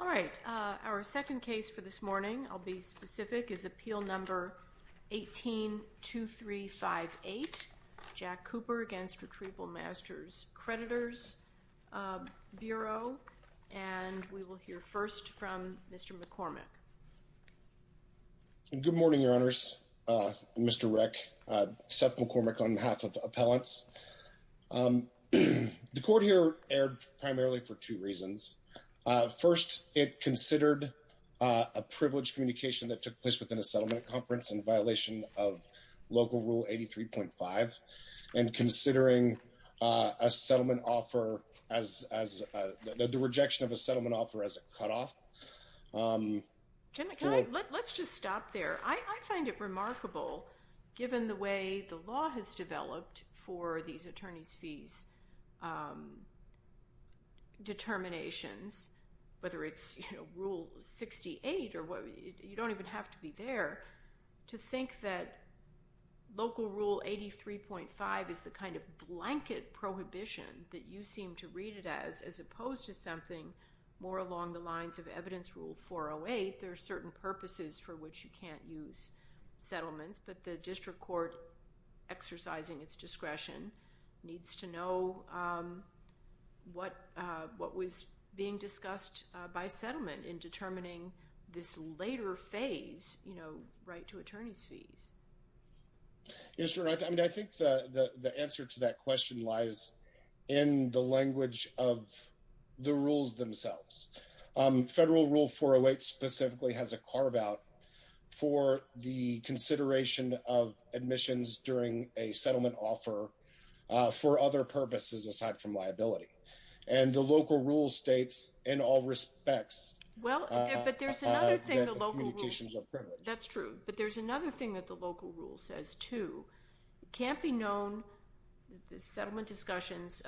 All right. Our second case for this morning, I'll be specific, is appeal number 18-2358, Jack Cooper against Retrieval Masters Creditors Bureau, and we will hear first from Mr. McCormick. Good morning, Your Honors. Mr. Rick, Seth McCormick on behalf of Appellants. The court here erred primarily for two reasons. First, it considered a privileged communication that took place within a settlement conference in violation of Local Rule 83.5, and considering a settlement offer as the rejection of a settlement offer as a cutoff. Let's just stop there. I find it remarkable, given the way the law has developed for these attorneys' fees determinations, whether it's Rule 68 or whatever, you don't even have to be there, to think that Local Rule 83.5 is the kind of blanket prohibition that you seem to read it as, as opposed to something more along the lines of Evidence Rule 408. There are certain purposes for which you can't use settlements, but the district court exercising its discretion needs to know what was being discussed by settlement in determining this later phase, you know, right to attorneys' fees. Yes, Your Honor. I mean, I think the answer to that question lies in the language of the rules themselves. Federal Rule 408 specifically has a carve-out for the consideration of admissions during a settlement offer for other purposes aside from liability, and the Local Rule states in all respects that communications are privileged. That's true, but there's another thing that the Local Rule says, too. It can't be known, the settlement discussions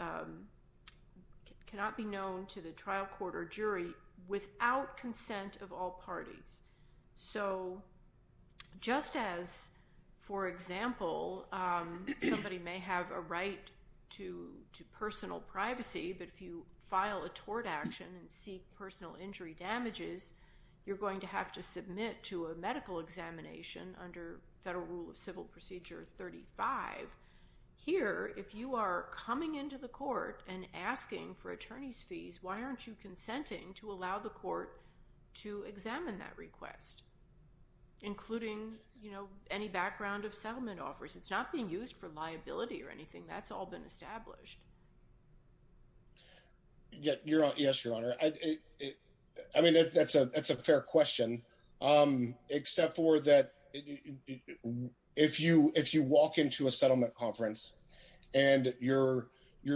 cannot be known to the trial court or jury without consent of all parties. So, just as, for example, somebody may have a right to personal privacy, but if you file a tort action and seek personal injury damages, you're going to have to submit to a medical examination under Federal Rule of Civil Procedure 35. Here, if you are coming into the court and asking for attorneys' fees, why aren't you consenting to allow the court to examine that request, including, you know, any background of settlement offers? It's not being used for liability or anything. That's all been established. Yes, Your Honor. I mean, that's a fair question, except for that if you walk into a settlement conference and you're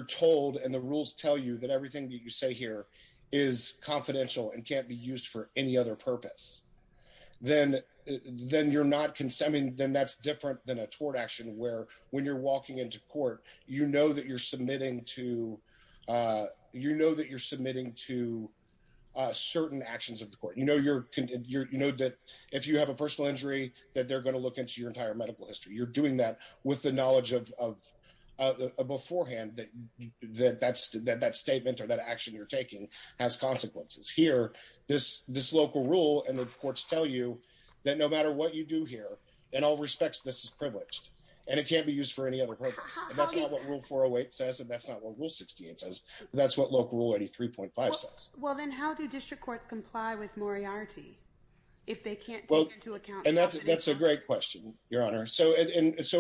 told and the rules tell you that everything that you say here is confidential and can't be used for any other purpose, then you're not consenting. Then that's different than a tort action, where when you're walking into court, you know that you're submitting to certain actions of the court. You know that if you have a personal injury, that they're going to look into your entire medical history. You're doing that with the knowledge beforehand that that statement or that action you're taking has consequences. Here, this local rule and the courts tell you that no matter what you do here, in all respects, this is privileged, and it can't be used for any other purpose. And that's not what Rule 408 says, and that's not what Rule 68 says. That's what Local Rule 83.5 says. Well, then how do district courts comply with moriarty if they can't take into account… And that's a great question, Your Honor. So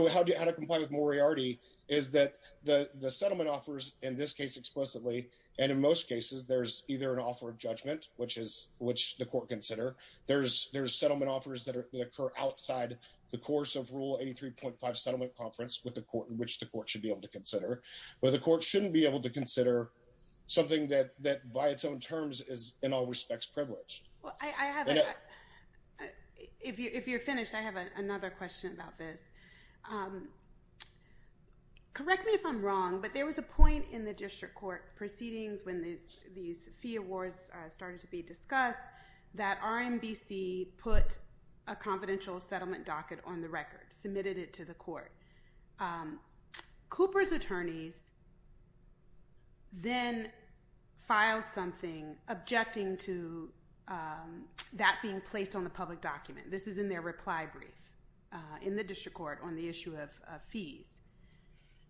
how to comply with moriarty is that the settlement offers in this case explicitly, and in most cases, there's either an offer of judgment, which the court consider. There's settlement offers that occur outside the course of Rule 83.5 settlement conference with the court in which the court should be able to consider. But the court shouldn't be able to consider something that by its own terms is in all respects privileged. If you're finished, I have another question about this. Correct me if I'm wrong, but there was a point in the district court proceedings when these fee awards started to be discussed that RMBC put a confidential settlement docket on the record, submitted it to the court. Cooper's attorneys then filed something objecting to that being placed on the public document. This is in their reply brief in the district court on the issue of fees.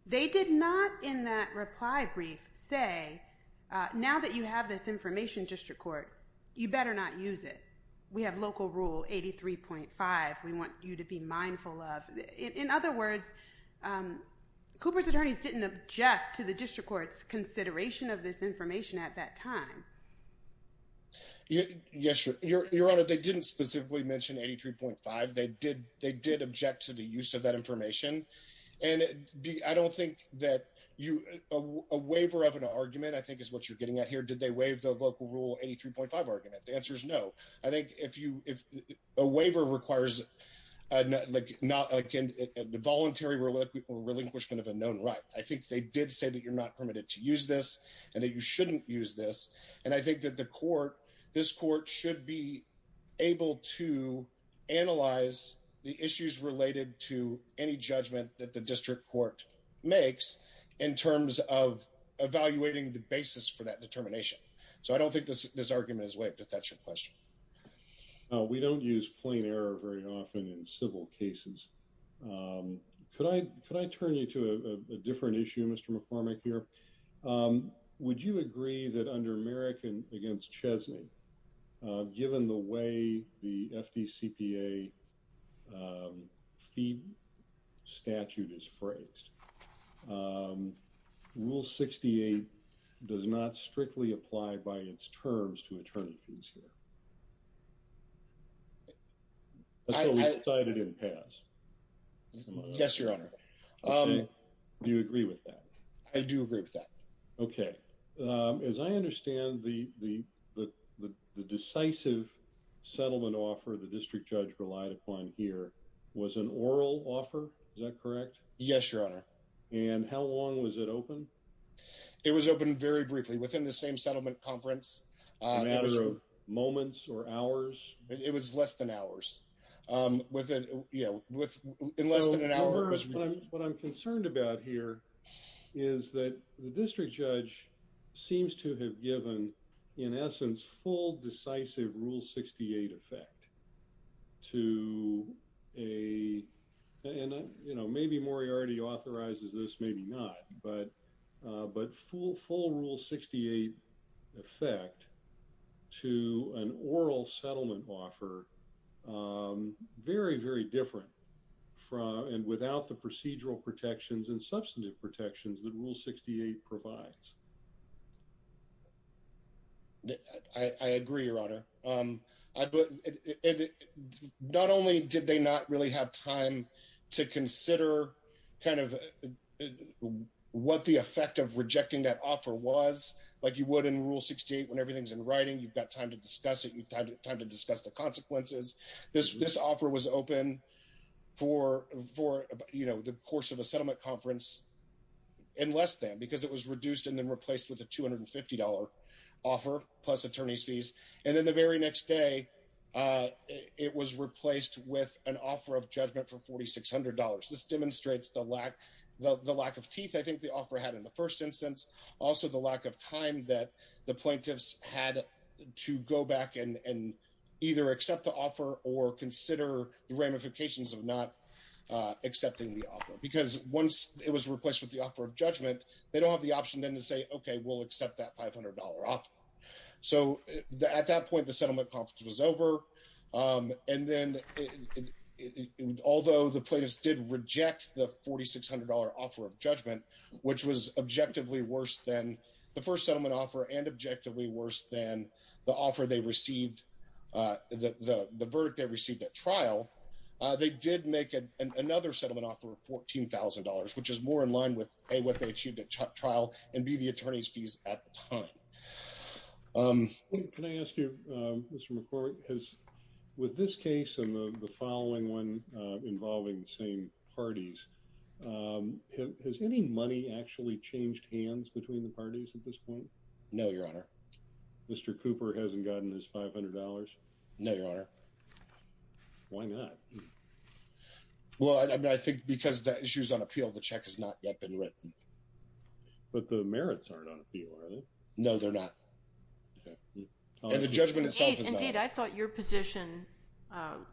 They did not in that reply brief say, now that you have this information, district court, you better not use it. We have local Rule 83.5. We want you to be mindful of. In other words, Cooper's attorneys didn't object to the district court's consideration of this information at that time. Yes, Your Honor, they didn't specifically mention 83.5. They did. They did object to the use of that information. I don't think that a waiver of an argument, I think, is what you're getting at here. Did they waive the local Rule 83.5 argument? The answer is no. I think if a waiver requires a voluntary relinquishment of a known right, I think they did say that you're not permitted to use this and that you shouldn't use this. And I think that the court, this court, should be able to analyze the issues related to any judgment that the district court makes in terms of evaluating the basis for that determination. So I don't think this argument is waived, but that's your question. We don't use plain error very often in civil cases. Could I turn you to a different issue, Mr. McCormick, here? Would you agree that under Merrick v. Chesney, given the way the FDCPA fee statute is phrased, Rule 68 does not strictly apply by its terms to attorney fees here? So we decided it didn't pass? Yes, Your Honor. Do you agree with that? I do agree with that. Okay. As I understand, the decisive settlement offer the district judge relied upon here was an oral offer, is that correct? Yes, Your Honor. And how long was it open? It was open very briefly, within the same settlement conference. A matter of moments or hours? It was less than hours. Within, you know, in less than an hour. to an oral settlement offer very, very different from and without the procedural protections and substantive protections that Rule 68 provides. Not only did they not really have time to consider kind of what the effect of rejecting that offer was, like you would in Rule 68 when everything's in writing, you've got time to discuss it, you've got time to discuss the consequences. This offer was open for, you know, the course of a settlement conference in less than because it was reduced and then replaced with a $250 offer plus attorney's fees. And then the very next day, it was replaced with an offer of judgment for $4,600. This demonstrates the lack of teeth I think the offer had in the first instance. Also, the lack of time that the plaintiffs had to go back and either accept the offer or consider the ramifications of not accepting the offer. Because once it was replaced with the offer of judgment, they don't have the option then to say, okay, we'll accept that $500 offer. So at that point, the settlement conference was over. And then, although the plaintiffs did reject the $4,600 offer of judgment, which was objectively worse than the first settlement offer and objectively worse than the offer they received, the verdict they received at trial, they did make another settlement offer of $14,000, which is more in line with, A, what they achieved at trial, and B, the attorney's fees at the time. Can I ask you, Mr. McCormick, with this case and the following one involving the same parties, has any money actually changed hands between the parties at this point? No, Your Honor. Mr. Cooper hasn't gotten his $500? No, Your Honor. Why not? Well, I think because the issue's on appeal, the check has not yet been written. But the merits aren't on appeal, are they? No, they're not. And the judgment itself is not. Indeed, I thought your position,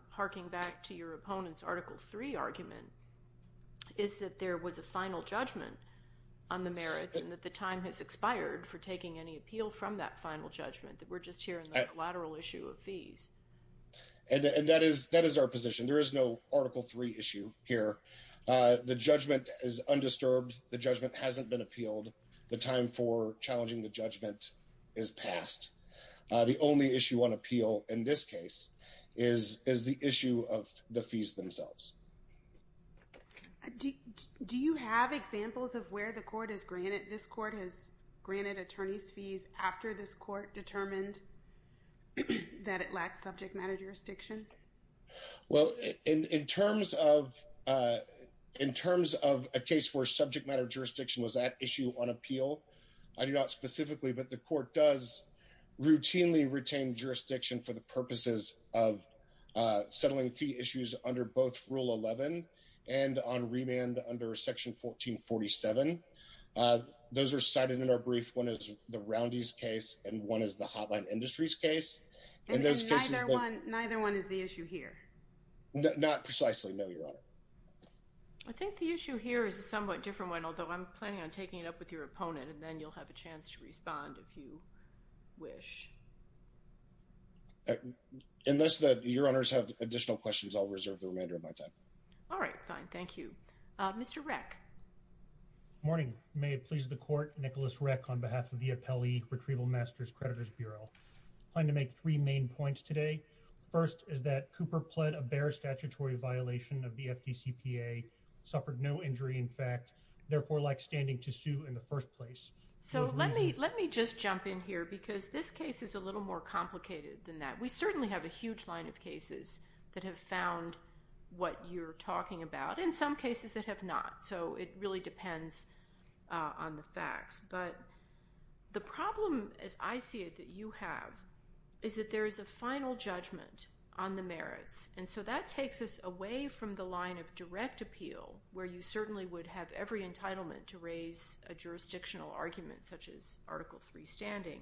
harking back to your opponent's Article III argument, is that there was a final judgment on the merits and that the time has expired for taking any appeal from that final judgment. We're just hearing the collateral issue of fees. And that is our position. There is no Article III issue here. The judgment is undisturbed. The judgment hasn't been appealed. The time for challenging the judgment is past. The only issue on appeal in this case is the issue of the fees themselves. Do you have examples of where the court has granted, this court has granted attorneys fees after this court determined that it lacked subject matter jurisdiction? Well, in terms of a case where subject matter jurisdiction was at issue on appeal, I do not specifically, but the court does routinely retain jurisdiction for the purposes of settling fee issues under both Rule 11 and on remand under Section 1447. Those are cited in our brief. One is the Roundy's case, and one is the Hotline Industries case. And neither one is the issue here? Not precisely, no, Your Honor. I think the issue here is a somewhat different one, although I'm planning on taking it up with your opponent, and then you'll have a chance to respond if you wish. Unless your honors have additional questions, I'll reserve the remainder of my time. All right, fine. Thank you. Mr. Reck. Good morning. May it please the court, Nicholas Reck on behalf of the Appellee Retrieval Master's Creditors Bureau. I'm going to make three main points today. First is that Cooper pled a bare statutory violation of the FDCPA, suffered no injury in fact, therefore lacked standing to sue in the first place. So let me just jump in here because this case is a little more complicated than that. We certainly have a huge line of cases that have found what you're talking about, and some cases that have not. So it really depends on the facts. But the problem, as I see it, that you have is that there is a final judgment on the merits. And so that takes us away from the line of direct appeal, where you certainly would have every entitlement to raise a jurisdictional argument, such as Article III standing.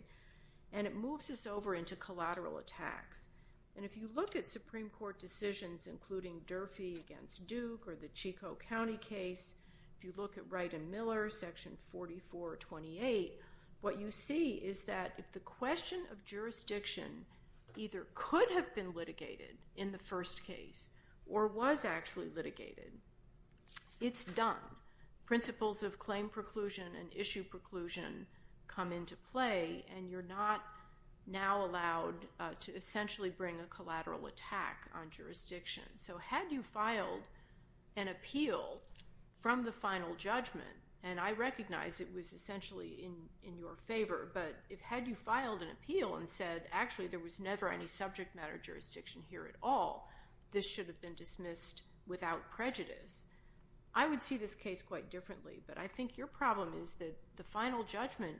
And it moves us over into collateral attacks. And if you look at Supreme Court decisions, including Durfee against Duke or the Chico County case, if you look at Wright and Miller, Section 4428, what you see is that if the question of jurisdiction either could have been litigated in the first case or was actually litigated, it's done. Principles of claim preclusion and issue preclusion come into play. And you're not now allowed to essentially bring a collateral attack on jurisdiction. So had you filed an appeal from the final judgment, and I recognize it was essentially in your favor, but had you filed an appeal and said, actually, there was never any subject matter jurisdiction here at all, this should have been dismissed without prejudice. I would see this case quite differently. But I think your problem is that the final judgment,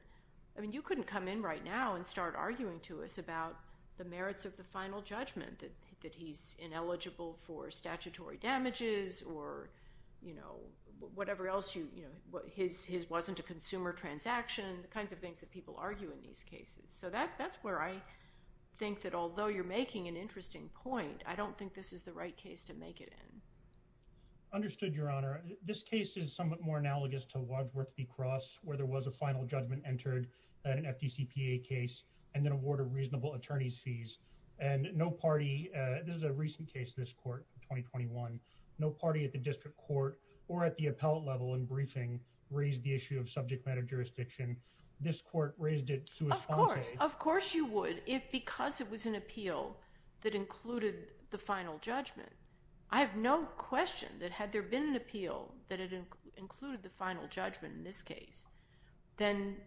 I mean, you couldn't come in right now and start arguing to us about the merits of the final judgment, that he's ineligible for statutory damages or whatever else, his wasn't a consumer transaction, the kinds of things that people argue in these cases. So that's where I think that although you're making an interesting point, I don't think this is the right case to make it in. Understood, Your Honor. This case is somewhat more analogous to Wadsworth v. Cross, where there was a final judgment entered, an FDCPA case, and then awarded reasonable attorney's fees. And no party, this is a recent case, this court, 2021, no party at the district court or at the appellate level in briefing raised the issue of subject matter jurisdiction. This court raised it. Of course, of course you would, if because it was an appeal that included the final judgment. I have no question that had there been an appeal that had included the final judgment in this case, then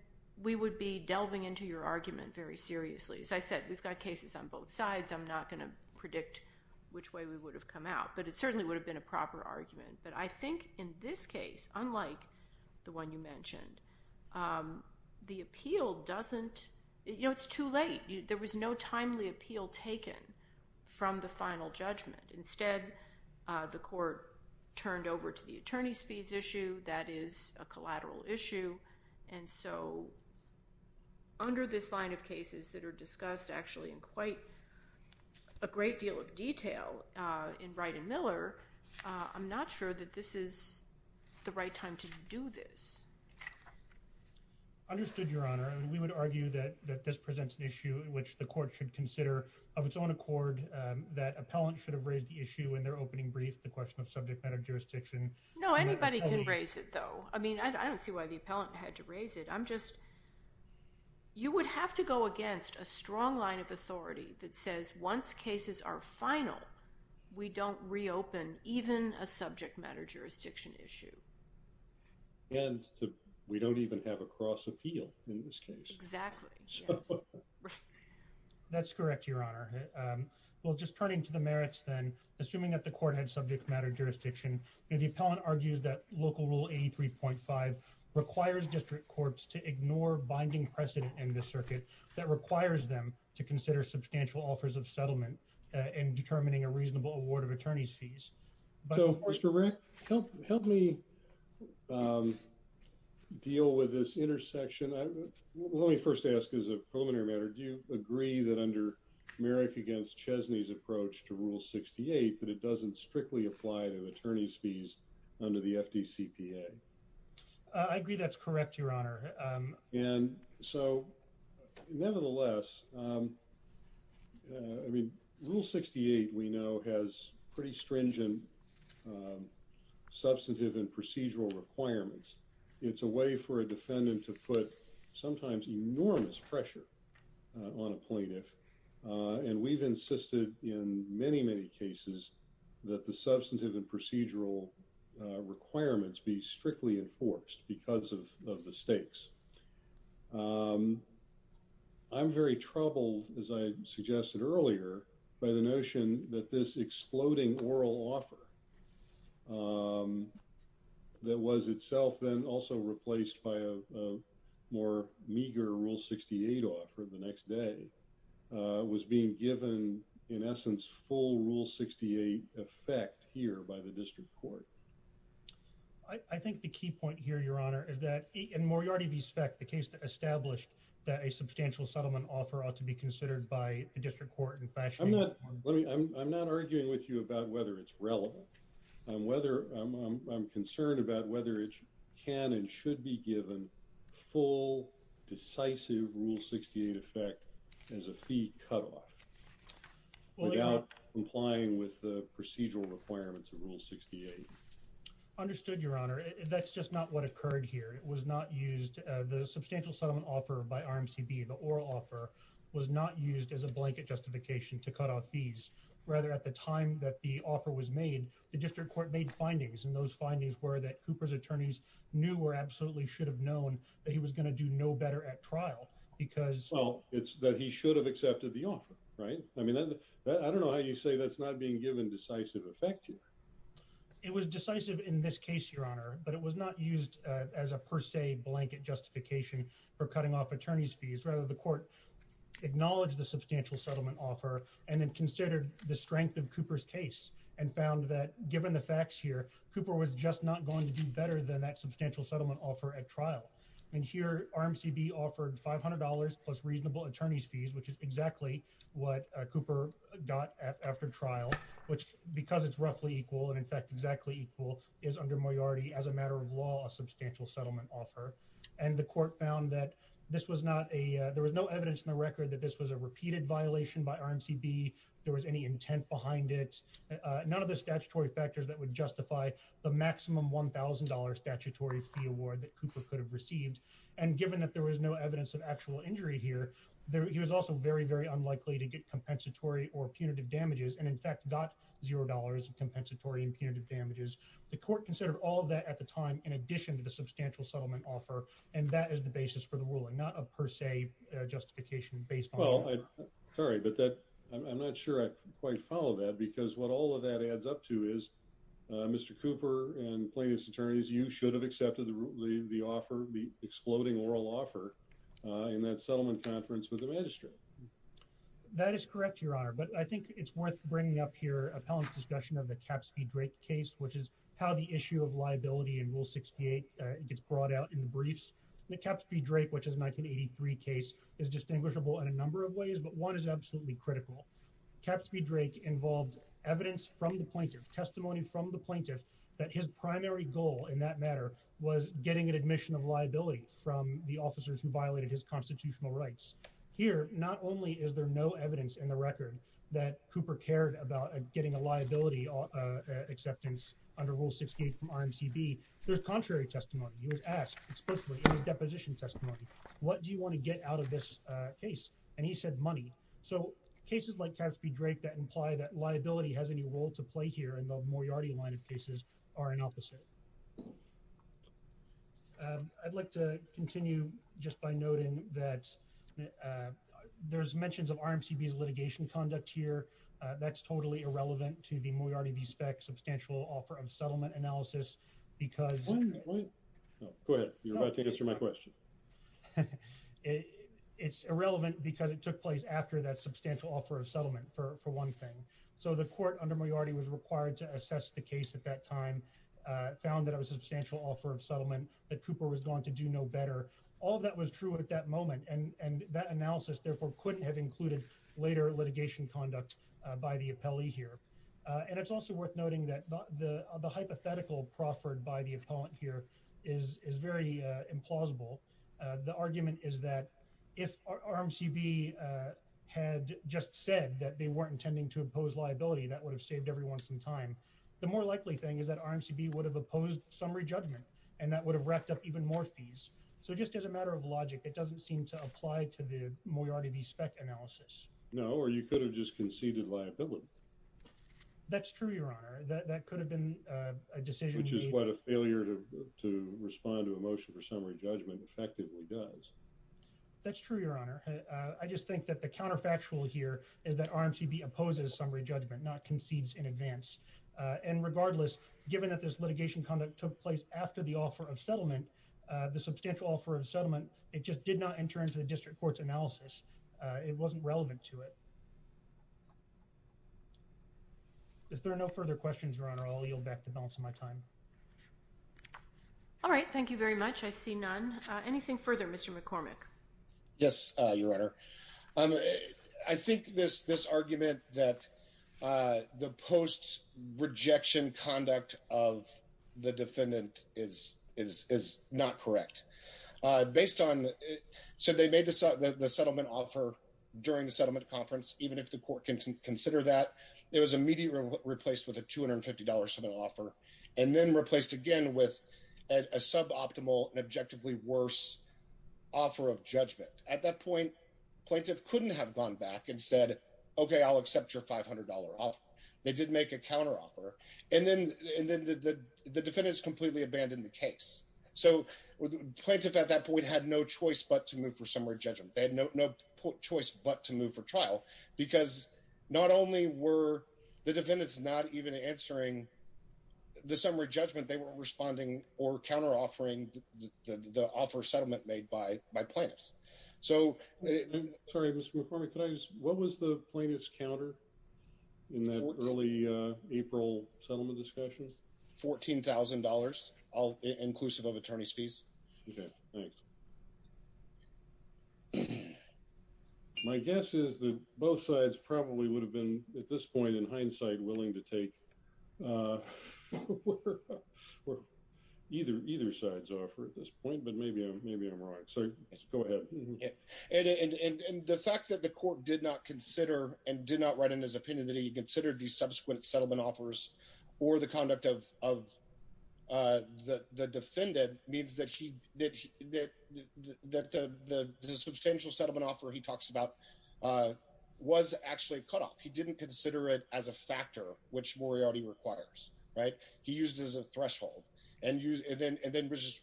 we would be delving into your argument very seriously. As I said, we've got cases on both sides. I'm not going to predict which way we would have come out. But it certainly would have been a proper argument. But I think in this case, unlike the one you mentioned, the appeal doesn't, you know, it's too late. There was no timely appeal taken from the final judgment. Instead, the court turned over to the attorney's fees issue. That is a collateral issue. And so. Under this line of cases that are discussed actually in quite a great deal of detail in Wright and Miller, I'm not sure that this is the right time to do this. Understood, Your Honor. We would argue that this presents an issue in which the court should consider of its own accord that appellant should have raised the issue in their opening brief. The question of subject matter jurisdiction. No, anybody can raise it, though. I mean, I don't see why the appellant had to raise it. I'm just. You would have to go against a strong line of authority that says once cases are final, we don't reopen even a subject matter jurisdiction issue. And we don't even have a cross appeal in this case. Exactly. That's correct, Your Honor. Well, just turning to the merits, then assuming that the court had subject matter jurisdiction, the appellant argues that local rule 83.5 requires district courts to ignore binding precedent in the circuit that requires them to consider substantial offers of settlement and determining a reasonable award of attorney's fees. So, Mr. Merrick, help me deal with this intersection. Let me first ask as a preliminary matter, do you agree that under Merrick against Chesney's approach to Rule 68 that it doesn't strictly apply to attorney's fees under the FDCPA? I agree that's correct, Your Honor. And so, nevertheless, I mean, Rule 68 we know has pretty stringent substantive and procedural requirements. It's a way for a defendant to put sometimes enormous pressure on a plaintiff. And we've insisted in many, many cases that the substantive and procedural requirements be strictly enforced because of the stakes. I'm very troubled, as I suggested earlier, by the notion that this exploding oral offer that was itself then also replaced by a more meager Rule 68 offer the next day was being given in essence full Rule 68 effect here by the district court. I think the key point here, Your Honor, is that in Moriarty v. Speck, the case that established that a substantial settlement offer ought to be considered by the district court. I'm not arguing with you about whether it's relevant. I'm concerned about whether it can and should be given full, decisive Rule 68 effect as a fee cutoff without complying with the procedural requirements of Rule 68. Understood, Your Honor. That's just not what occurred here. It was not used. The substantial settlement offer by RMCB, the oral offer, was not used as a blanket justification to cut off fees. Rather, at the time that the offer was made, the district court made findings. And those findings were that Cooper's attorneys knew or absolutely should have known that he was going to do no better at trial because... Well, it's that he should have accepted the offer, right? I mean, I don't know how you say that's not being given decisive effect here. It was decisive in this case, Your Honor, but it was not used as a per se blanket justification for cutting off attorney's fees. Rather, the court acknowledged the substantial settlement offer and then considered the strength of Cooper's case and found that given the facts here, Cooper was just not going to do better than that substantial settlement offer at trial. And here RMCB offered $500 plus reasonable attorney's fees, which is exactly what Cooper got after trial, which because it's roughly equal and in fact exactly equal is under majority as a matter of law, a substantial settlement offer. And the court found that this was not a there was no evidence in the record that this was a repeated violation by RMCB. There was any intent behind it. None of the statutory factors that would justify the maximum $1,000 statutory fee award that Cooper could have received. And given that there was no evidence of actual injury here, he was also very, very unlikely to get compensatory or punitive damages. And in fact, not $0 of compensatory and punitive damages. The court considered all of that at the time, in addition to the substantial settlement offer. And that is the basis for the ruling, not a per se justification based on... Sorry, but that I'm not sure I quite follow that because what all of that adds up to is Mr. Cooper and plaintiff's attorneys, you should have accepted the offer, the exploding oral offer in that settlement conference with the magistrate. That is correct, Your Honor, but I think it's worth bringing up here appellant's discussion of the Capsby-Drake case, which is how the issue of liability in Rule 68 gets brought out in the briefs. The Capsby-Drake, which is a 1983 case, is distinguishable in a number of ways, but one is absolutely critical. Capsby-Drake involved evidence from the plaintiff, testimony from the plaintiff, that his primary goal in that matter was getting an admission of liability from the officers who violated his constitutional rights. Here, not only is there no evidence in the record that Cooper cared about getting a liability acceptance under Rule 68 from RMCB, there's contrary testimony. He was asked explicitly in his deposition testimony, What do you want to get out of this case? And he said money. So cases like Capsby-Drake that imply that liability has any role to play here in the Moriarty line of cases are an opposite. I'd like to continue just by noting that there's mentions of RMCB's litigation conduct here. That's totally irrelevant to the Moriarty v. Speck substantial offer of settlement analysis because... Go ahead. You're about to answer my question. It's irrelevant because it took place after that substantial offer of settlement for one thing. So the court under Moriarty was required to assess the case at that time, found that it was a substantial offer of settlement, that Cooper was going to do no better. All of that was true at that moment, and that analysis therefore couldn't have included later litigation conduct by the appellee here. And it's also worth noting that the hypothetical proffered by the appellant here is very implausible. The argument is that if RMCB had just said that they weren't intending to impose liability, that would have saved everyone some time. The more likely thing is that RMCB would have opposed summary judgment, and that would have racked up even more fees. So just as a matter of logic, it doesn't seem to apply to the Moriarty v. Speck analysis. No, or you could have just conceded liability. That's true, Your Honor. That could have been a decision... Which is what a failure to respond to a motion for summary judgment effectively does. That's true, Your Honor. I just think that the counterfactual here is that RMCB opposes summary judgment, not concedes in advance. And regardless, given that this litigation conduct took place after the offer of settlement, the substantial offer of settlement, it just did not enter into the district court's analysis. It wasn't relevant to it. If there are no further questions, Your Honor, I'll yield back the balance of my time. All right. Thank you very much. I see none. Anything further, Mr. McCormick? Yes, Your Honor. I think this argument that the post-rejection conduct of the defendant is not correct. So they made the settlement offer during the settlement conference, even if the court can consider that. It was immediately replaced with a $250 settlement offer, and then replaced again with a suboptimal and objectively worse offer of judgment. At that point, plaintiff couldn't have gone back and said, okay, I'll accept your $500 offer. They did make a counteroffer. And then the defendants completely abandoned the case. So plaintiff at that point had no choice but to move for summary judgment. They had no choice but to move for trial, because not only were the defendants not even answering the summary judgment, they weren't responding or counter-offering the offer of settlement made by plaintiffs. Sorry, Mr. McCormick, what was the plaintiff's counter in that early April settlement discussion? $14,000, inclusive of attorney's fees. Okay, thanks. My guess is that both sides probably would have been at this point in hindsight willing to take either side's offer at this point, but maybe I'm wrong. So go ahead. And the fact that the court did not consider and did not write in his opinion that he considered these subsequent settlement offers or the conduct of the defendant means that the substantial settlement offer he talks about was actually cut off. He didn't consider it as a factor, which Moriarty requires. He used it as a threshold and then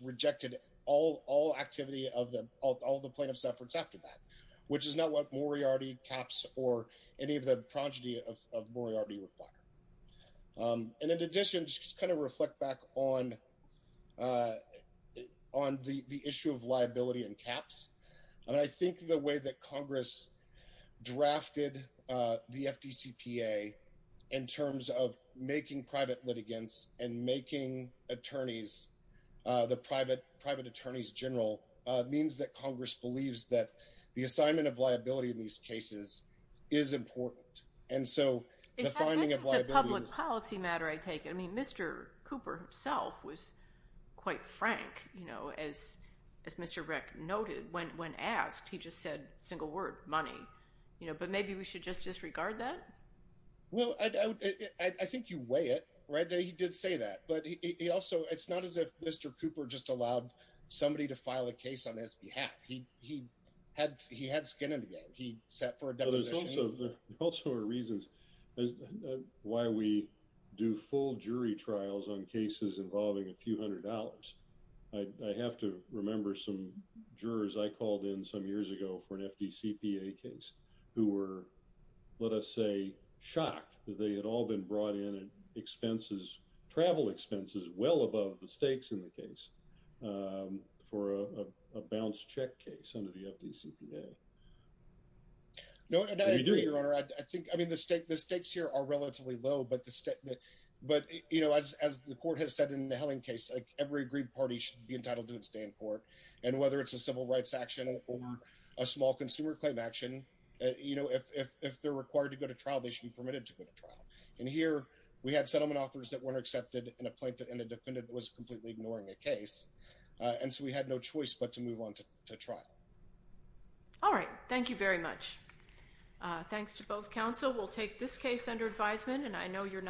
rejected all activity of all the plaintiff's efforts after that, which is not what Moriarty caps or any of the progeny of Moriarty require. And in addition, just kind of reflect back on the issue of liability and caps. And I think the way that Congress drafted the FDCPA in terms of making private litigants and making attorneys the private private attorneys general means that Congress believes that the assignment of liability in these cases is important. And so public policy matter, I take it. I mean, Mr. Cooper himself was quite frank, you know, as as Mr. Rick noted when when asked, he just said single word money, you know, but maybe we should just disregard that. Well, I think you weigh it right there. He did say that, but he also it's not as if Mr. Cooper just allowed somebody to file a case on his behalf. He he had he had skin in the game. He set for a deposition. Also are reasons why we do full jury trials on cases involving a few hundred dollars. I have to remember some jurors I called in some years ago for an FDCPA case who were, let us say, shocked that they had all been brought in and expenses travel expenses well above the stakes in the case for a balanced check case under the FDCPA. No, I agree, Your Honor. I think I mean, the state the stakes here are relatively low, but the statement but, you know, as the court has said in the Helen case, like every agreed party should be entitled to its day in court. And whether it's a civil rights action or a small consumer claim action, you know, if they're required to go to trial, they should be permitted to go to trial. And here we had settlement offers that weren't accepted and a plaintiff and a defendant was completely ignoring a case. And so we had no choice but to move on to trial. All right. Thank you very much. Thanks to both counsel. We'll take this case under advisement, and I know you're not.